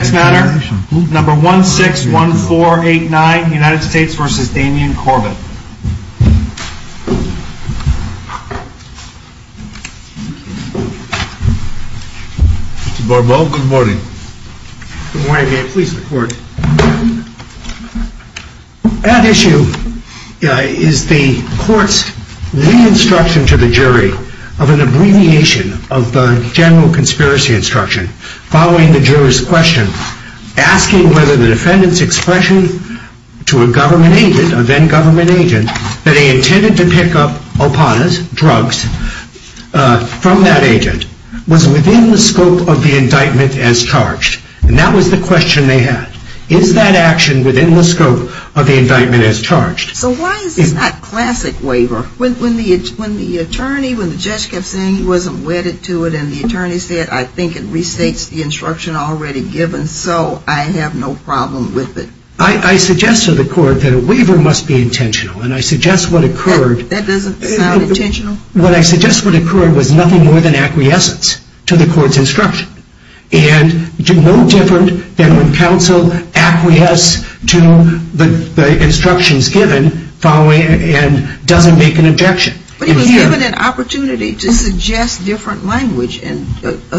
161489 U.S. v. Damian Corbett That issue is the court's re-instruction to the jury of an abbreviation of the general asking whether the defendant's expression to a government agent, a then government agent, that he intended to pick up opanas, drugs, from that agent, was within the scope of the indictment as charged. And that was the question they had. Is that action within the scope of the indictment as charged? So why is this not classic waiver? When the attorney, when the judge kept saying he wasn't wedded to it and the attorney said, I think it restates the instruction already given, so I have no problem with it. I suggest to the court that a waiver must be intentional. And I suggest what occurred... That doesn't sound intentional? What I suggest would occur was nothing more than acquiescence to the court's instruction. And no different than when counsel acquiesce to the instructions given following and doesn't make an objection. But he was given an opportunity to suggest different language and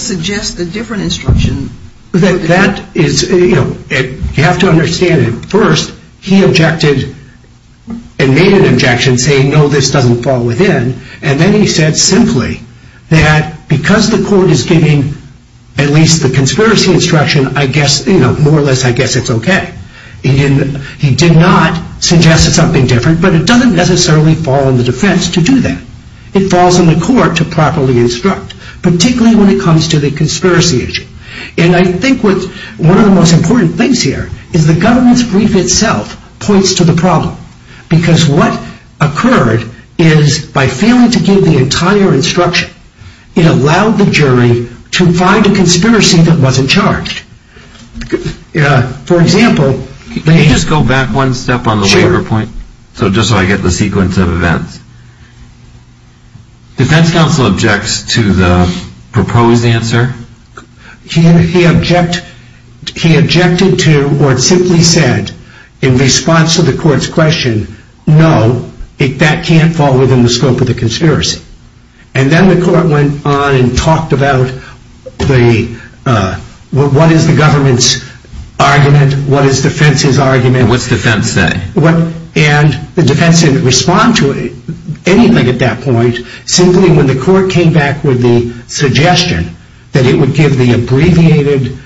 suggest a different instruction. That is, you know, you have to understand him. First, he objected and made an objection saying, no, this doesn't fall within. And then he said simply that because the court is giving at least the conspiracy instruction, I guess, you know, more or less, I guess it's okay. He did not suggest something different, but it doesn't necessarily fall in the defense to do that. It falls in the court to properly instruct, particularly when it comes to the conspiracy issue. And I think one of the most important things here is the government's brief itself points to the problem. Because what occurred is by failing to give the entire instruction, it allowed the jury to find a conspiracy that wasn't charged. For example, Can you just go back one step on the waiver point? Sure. So just so I get the sequence of events. Defense counsel objects to the proposed answer? He objected to or simply said in response to the court's question, no, that can't fall within the scope of the conspiracy. And then the court went on and talked about what is the government's argument, what is defense's argument. And what's defense say? And the defense didn't respond to anything at that point. Simply when the court came back with the suggestion that it would give the abbreviated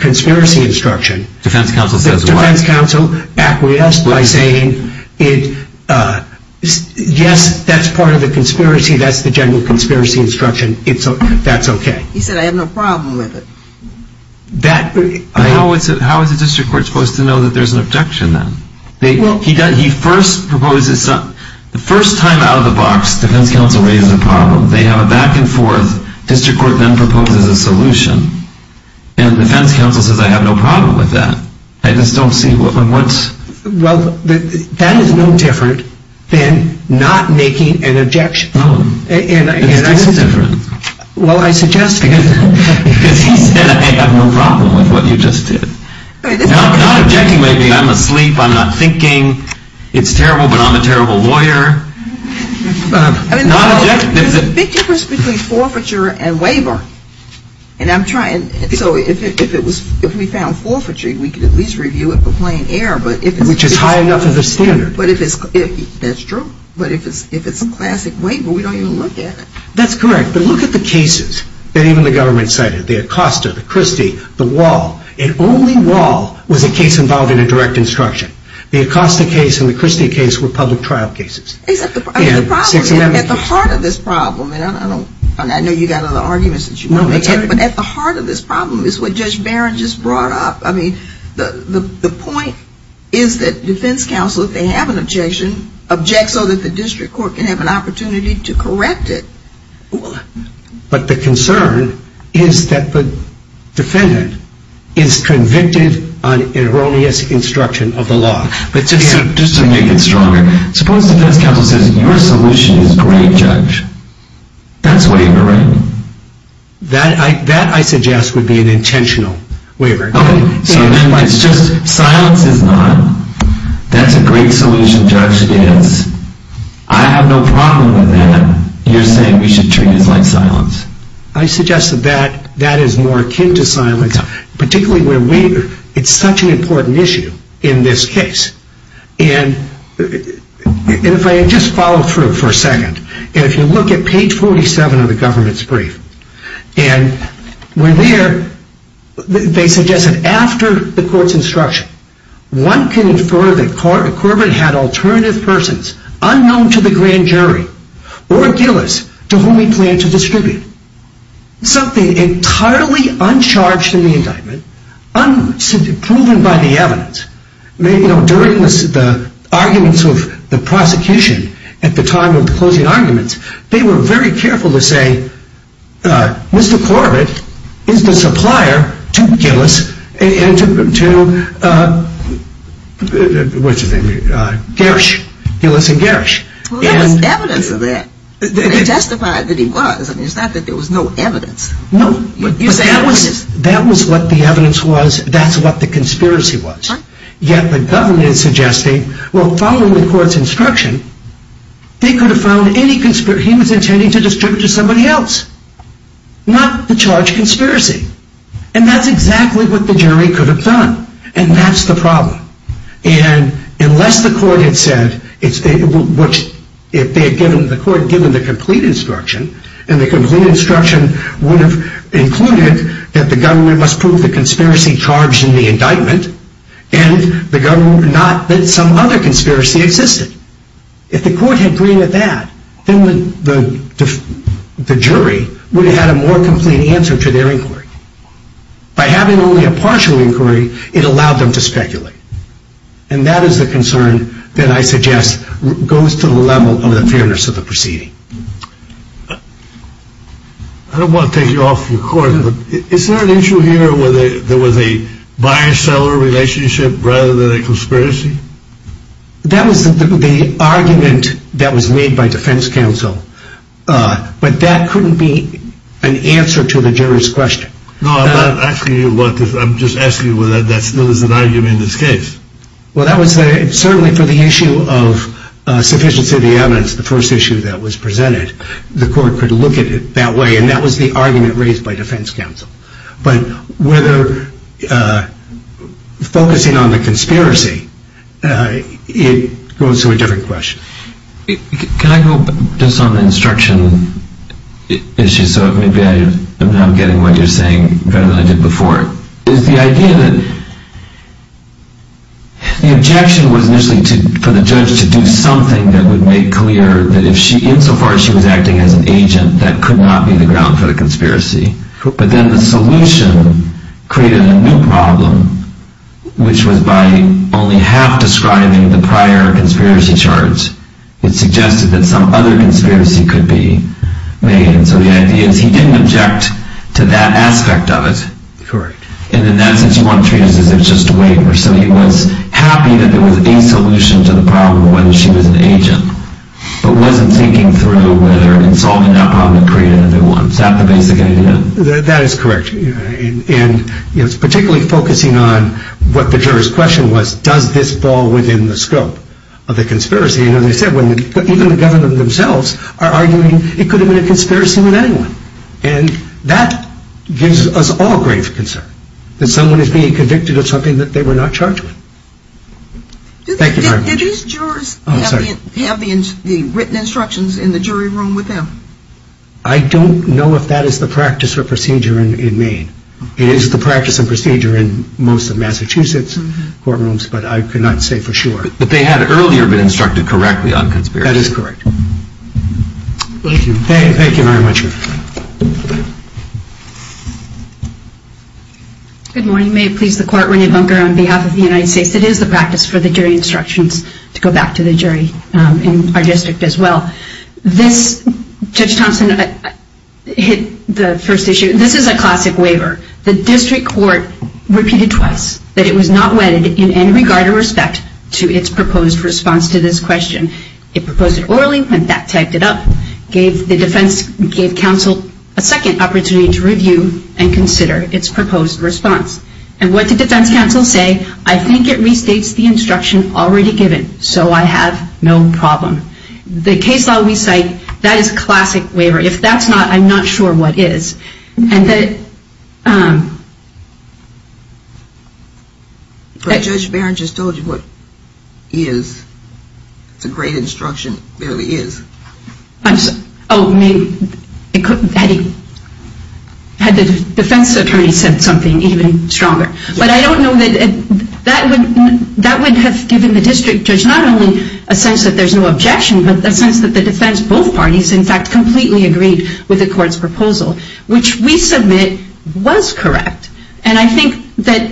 conspiracy instruction. Defense counsel says what? Yes, that's part of the conspiracy. That's the general conspiracy instruction. That's okay. He said I have no problem with it. How is the district court supposed to know that there's an objection then? He first proposes, the first time out of the box, defense counsel raises a problem. They have a back and forth. District court then proposes a solution. And defense counsel says I have no problem with that. I just don't see what's. Well, that is no different than not making an objection. It's totally different. Well, I suggest because he said I have no problem with what you just did. Not objecting, maybe I'm asleep, I'm not thinking, it's terrible but I'm a terrible lawyer. There's a big difference between forfeiture and waiver. And I'm trying. So if we found forfeiture, we could at least review it for plain error. Which is high enough as a standard. That's true. But if it's a classic waiver, we don't even look at it. That's correct. But look at the cases that even the government cited. The Acosta, the Christie, the Wall. And only Wall was a case involving a direct instruction. The Acosta case and the Christie case were public trial cases. At the heart of this problem, and I know you've got other arguments that you want to make, but at the heart of this problem is what Judge Barron just brought up. I mean, the point is that defense counsel, if they have an objection, objects so that the district court can have an opportunity to correct it. But the concern is that the defendant is convicted on erroneous instruction of the law. But just to make it stronger. Suppose the defense counsel says your solution is great, Judge. That's wavering. That, I suggest, would be an intentional wavering. Okay. Silence is not. That's a great solution, Judge, it is. I have no problem with that. You're saying we should treat it like silence. I suggest that that is more akin to silence. Particularly where it's such an important issue in this case. And if I just follow through for a second. If you look at page 47 of the government's brief, and we're there, they suggest that after the court's instruction, one can infer that Corbin had alternative persons unknown to the grand jury or Gillis to whom he planned to distribute. Something entirely uncharged in the indictment, unproven by the evidence, during the arguments of the prosecution at the time of the closing arguments, they were very careful to say, Mr. Corbin is the supplier to Gillis and to Garish. Well, there was evidence of that. They justified that he was. It's not that there was no evidence. That was what the evidence was. That's what the conspiracy was. Yet the government is suggesting, well, following the court's instruction, they could have found any conspiracy. He was intending to distribute to somebody else, not to charge conspiracy. And that's exactly what the jury could have done. And that's the problem. And unless the court had said, which if the court had given the complete instruction, and the complete instruction would have included that the government must prove the conspiracy charged in the indictment and the government not that some other conspiracy existed. If the court had agreed with that, then the jury would have had a more complete answer to their inquiry. By having only a partial inquiry, it allowed them to speculate. And that is the concern that I suggest goes to the level of the fairness of the proceeding. I don't want to take you off your course. Is there an issue here where there was a buyer-seller relationship rather than a conspiracy? That was the argument that was made by defense counsel. But that couldn't be an answer to the jury's question. No, I'm not asking you what. I'm just asking whether that still is an argument in this case. Well, that was certainly for the issue of sufficiency of the evidence, the first issue that was presented. The court could look at it that way. And that was the argument raised by defense counsel. But whether focusing on the conspiracy, it goes to a different question. Can I go just on the instruction issue? So maybe I'm now getting what you're saying better than I did before. The objection was initially for the judge to do something that would make clear that insofar as she was acting as an agent, that could not be the ground for the conspiracy. But then the solution created a new problem, which was by only half describing the prior conspiracy charge, it suggested that some other conspiracy could be made. And so the idea is he didn't object to that aspect of it. Correct. And in that sense, you want to treat it as if it's just a waiver. So he was happy that there was a solution to the problem, whether she was an agent, but wasn't thinking through whether in solving that problem it created a new one. Is that the basic idea? That is correct. And it's particularly focusing on what the juror's question was, does this fall within the scope of the conspiracy? And as I said, even the government themselves are arguing it could have been a conspiracy with anyone. And that gives us all grave concern that someone is being convicted of something that they were not charged with. Did these jurors have the written instructions in the jury room with them? I don't know if that is the practice or procedure in Maine. It is the practice and procedure in most of Massachusetts courtrooms, but I cannot say for sure. But they had earlier been instructed correctly on conspiracy. That is correct. Thank you. Thank you very much, Your Honor. Good morning. May it please the Court, Rene Bunker on behalf of the United States. It is the practice for the jury instructions to go back to the jury in our district as well. This, Judge Thompson, hit the first issue. This is a classic waiver. The district court repeated twice that it was not wedded in any regard or respect to its proposed response to this question. It proposed it orally and that typed it up. The defense gave counsel a second opportunity to review and consider its proposed response. And what did defense counsel say? I think it restates the instruction already given, so I have no problem. The case law we cite, that is a classic waiver. If that's not, I'm not sure what is. But Judge Barron just told you what is. It's a great instruction. It really is. Had the defense attorney said something even stronger? But I don't know that that would have given the district judge not only a sense that there's no objection, but a sense that the defense, both parties, in fact, completely agreed with the court's proposal. Which we submit was correct. And I think that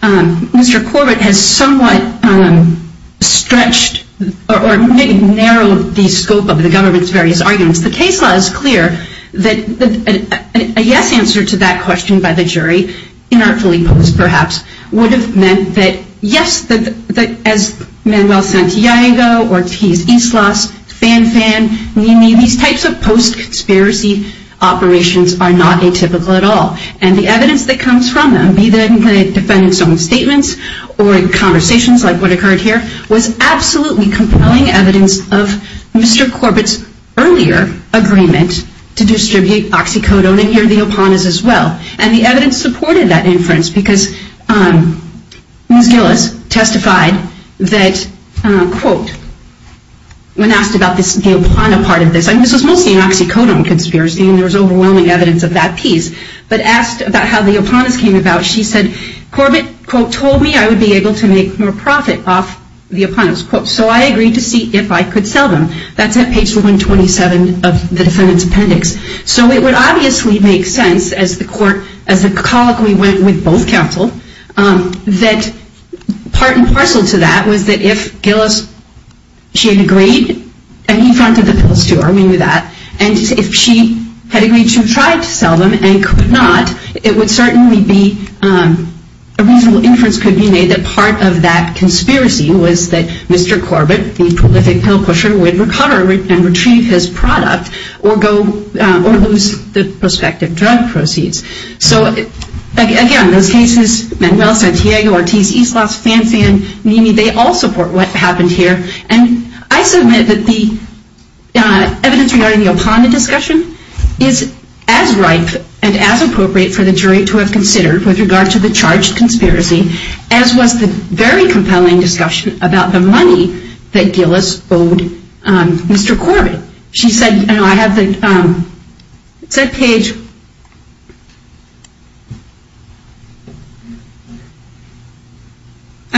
Mr. Corbett has somewhat stretched or maybe narrowed the scope of the government's various arguments. The case law is clear that a yes answer to that question by the jury, inartfully posed perhaps, would have meant that yes, as Manuel Santiago, Ortiz, Islas, Fanfan, Mimi, these types of post-conspiracy operations are not atypical at all. And the evidence that comes from them, be that in the defendant's own statements or in conversations like what occurred here, was absolutely compelling evidence of Mr. Corbett's earlier agreement to distribute oxycodone and here the opanas as well. And the evidence supported that inference because Ms. Gillis testified that, quote, when asked about the opana part of this, and this was mostly an oxycodone conspiracy and there was overwhelming evidence of that piece. But asked about how the opanas came about, she said, Corbett, quote, told me I would be able to make more profit off the opanas. Quote, so I agreed to see if I could sell them. That's at page 127 of the defendant's appendix. So it would obviously make sense as the court, as the colloquy went with both counsel, that part and parcel to that was that if Gillis, she had agreed, and he fronted the pills to her, I mean with that, and if she had agreed to try to sell them and could not, it would certainly be, a reasonable inference could be made that part of that conspiracy was that Mr. Corbett, the prolific pill pusher, would recover and retrieve his product or go, or lose the prospective drug proceeds. So again, those cases, Manuel, Santiago, Ortiz, Eastloss, Fanfan, Mimi, they all support what happened here. And I submit that the evidence regarding the opana discussion is as ripe and as appropriate for the jury to have considered with regard to the charged conspiracy, as was the very compelling discussion about the money that Gillis owed Mr. Corbett. She said, I have the, it said page,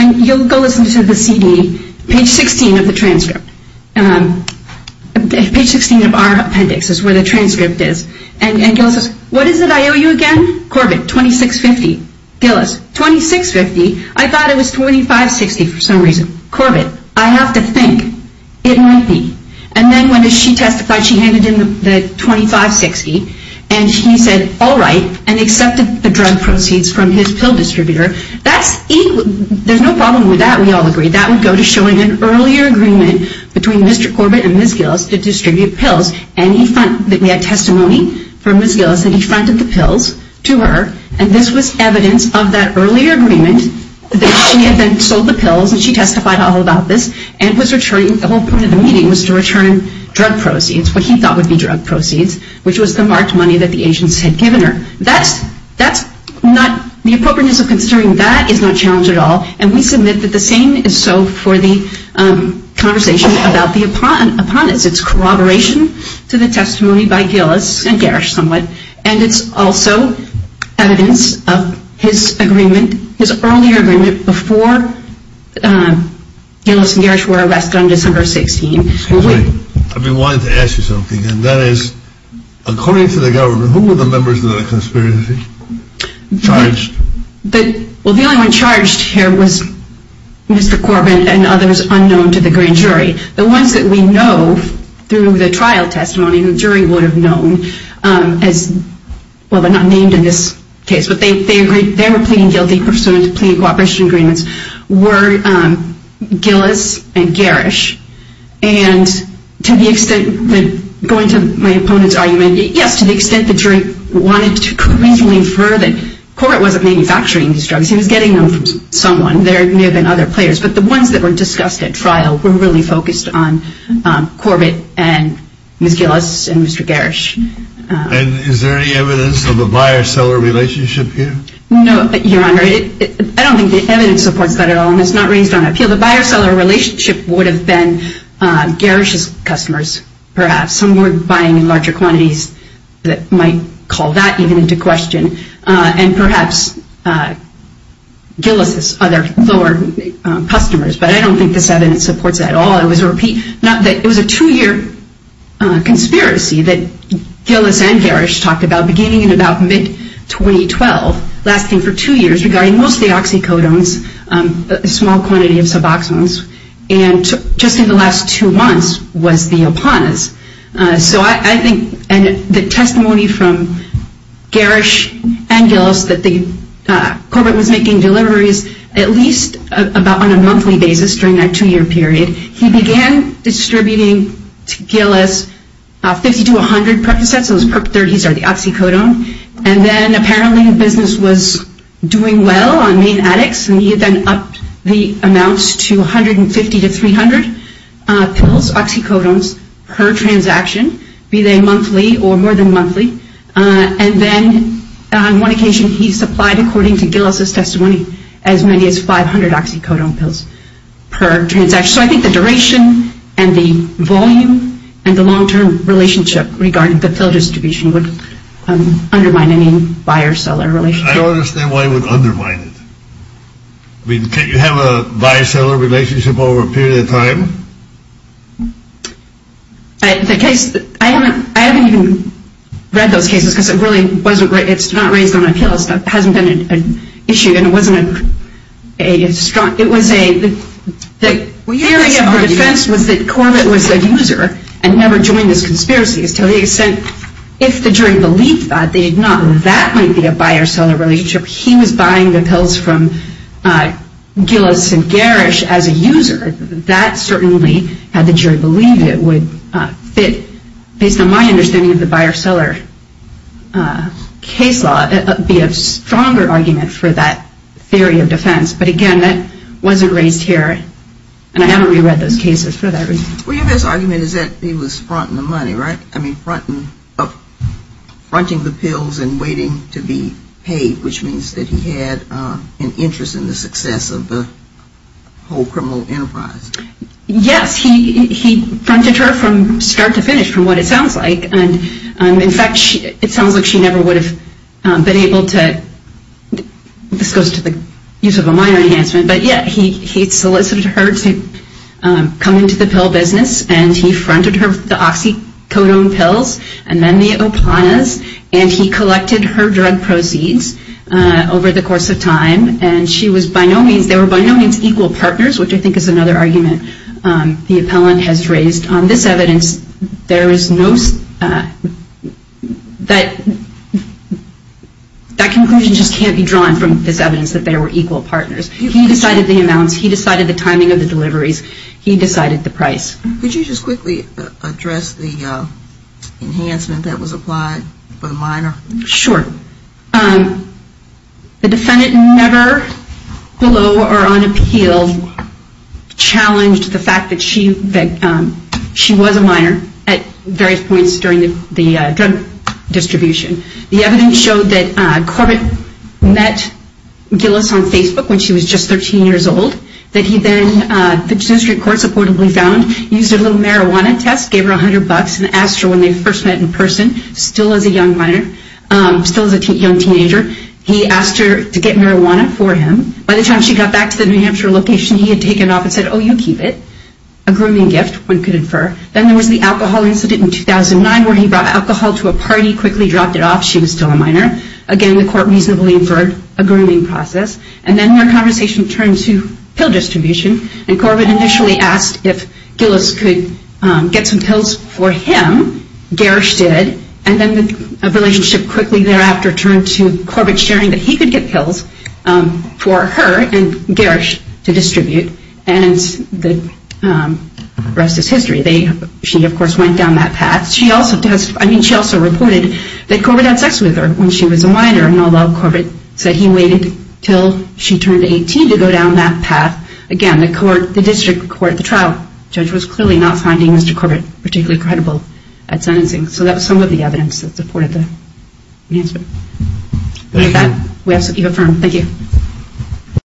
you'll go listen to the CD, page 16 of the transcript. Page 16 of our appendix is where the transcript is. And Gillis says, what is it I owe you again? Corbett, $26.50. Gillis, $26.50? I thought it was $25.60 for some reason. Corbett, I have to think. It might be. And then when she testified, she handed him the $25.60. And he said, all right, and accepted the drug proceeds from his pill distributor. That's, there's no problem with that, we all agree. That would go to showing an earlier agreement between Mr. Corbett and Ms. Gillis to distribute pills. And he, we had testimony from Ms. Gillis, and he fronted the pills to her. And this was evidence of that earlier agreement that she had then sold the pills, and she testified all about this, and was returning, the whole point of the meeting was to return drug proceeds, what he thought would be drug proceeds, which was the marked money that the agents had given her. That's, that's not, the appropriateness of considering that is not challenged at all. And we submit that the same is so for the conversation about the appendix. It's corroboration to the testimony by Gillis, and Garrish somewhat, and it's also evidence of his agreement, his earlier agreement before Gillis and Garrish were arrested on December 16. Excuse me, I've been wanting to ask you something, and that is, according to the government, who were the members of the conspiracy charge? The, well the only one charged here was Mr. Corbett and others unknown to the grand jury. The ones that we know, through the trial testimony, the jury would have known, as, well they're not named in this case, but they, they agreed, they were pleading guilty pursuant to pleading cooperation agreements, were Gillis and Garrish. And to the extent that, going to my opponent's argument, yes, to the extent the jury wanted to reasonably infer that Corbett wasn't manufacturing these drugs, he was getting them from someone, there may have been other players, but the ones that were discussed at trial were really focused on Corbett and Ms. Gillis and Mr. Garrish. And is there any evidence of a buyer-seller relationship here? No, Your Honor, I don't think the evidence supports that at all, and it's not raised on appeal. The buyer-seller relationship would have been Garrish's customers, perhaps, some were buying in larger quantities that might call that even into question, and perhaps Gillis's other lower customers, but I don't think this evidence supports that at all. It was a repeat, it was a two-year conspiracy that Gillis and Garrish talked about, beginning in about mid-2012, lasting for two years, regarding mostly oxycodones, a small quantity of suboxones, and just in the last two months was the Apanas. So I think the testimony from Garrish and Gillis that Corbett was making deliveries at least about on a monthly basis during that two-year period, he began distributing to Gillis 50 to 100 Percocets, those Perc-30s are the oxycodone, and then apparently the business was doing well on main addicts, and he then upped the amounts to 150 to 300 pills, oxycodones, per transaction, be they monthly or more than monthly, and then on one occasion he supplied, according to Gillis's testimony, as many as 500 oxycodone pills per transaction. So I think the duration and the volume and the long-term relationship regarding the pill distribution would undermine any buyer-seller relationship. I don't understand why it would undermine it. I mean, can't you have a buyer-seller relationship over a period of time? The case, I haven't even read those cases because it really wasn't, it's not raised on appeals, it hasn't been an issue, and it wasn't a strong, it was a, the theory of the defense was that Corbett was a user and never joined this conspiracy to the extent, if the jury believed that, they did not know that might be a buyer-seller relationship. He was buying the pills from Gillis and Garish as a user. That certainly, had the jury believed it, would fit, based on my understanding of the buyer-seller case law, be a stronger argument for that theory of defense. But again, that wasn't raised here, and I haven't reread those cases for that reason. Well, your best argument is that he was fronting the money, right? I mean, fronting the pills and waiting to be paid, which means that he had an interest in the success of the whole criminal enterprise. Yes, he fronted her from start to finish, from what it sounds like, and in fact, it sounds like she never would have been able to, this goes to the use of a minor enhancement, but yeah, he solicited her to come into the pill business, and he fronted her with the oxycodone pills and then the opanas, and he collected her drug proceeds over the course of time, and they were by no means equal partners, which I think is another argument the appellant has raised. On this evidence, that conclusion just can't be drawn from this evidence that they were equal partners. He decided the amounts. He decided the timing of the deliveries. He decided the price. Could you just quickly address the enhancement that was applied for the minor? Sure. The defendant never, below or on appeal, challenged the fact that she was a minor at various points during the drug distribution. The evidence showed that Corbett met Gillis on Facebook when she was just 13 years old, that he then, the district court supportably found, used her little marijuana test, gave her $100 and asked her when they first met in person, still as a young minor, still as a young teenager, he asked her to get marijuana for him. By the time she got back to the New Hampshire location, he had taken off and said, oh, you keep it, a grooming gift, one could infer. Then there was the alcohol incident in 2009 where he brought alcohol to a party, quickly dropped it off, she was still a minor. Again, the court reasonably inferred a grooming process. And then their conversation turned to pill distribution, and Corbett initially asked if Gillis could get some pills for him, Garish did, and then the relationship quickly thereafter turned to Corbett sharing that he could get pills for her and Garish to distribute, and the rest is history. She, of course, went down that path. She also reported that Corbett had sex with her when she was a minor, and although Corbett said he waited until she turned 18 to go down that path, again, the district court, the trial judge, was clearly not finding Mr. Corbett particularly credible at sentencing. So that was some of the evidence that supported the answer. With that, we have something to affirm. Thank you.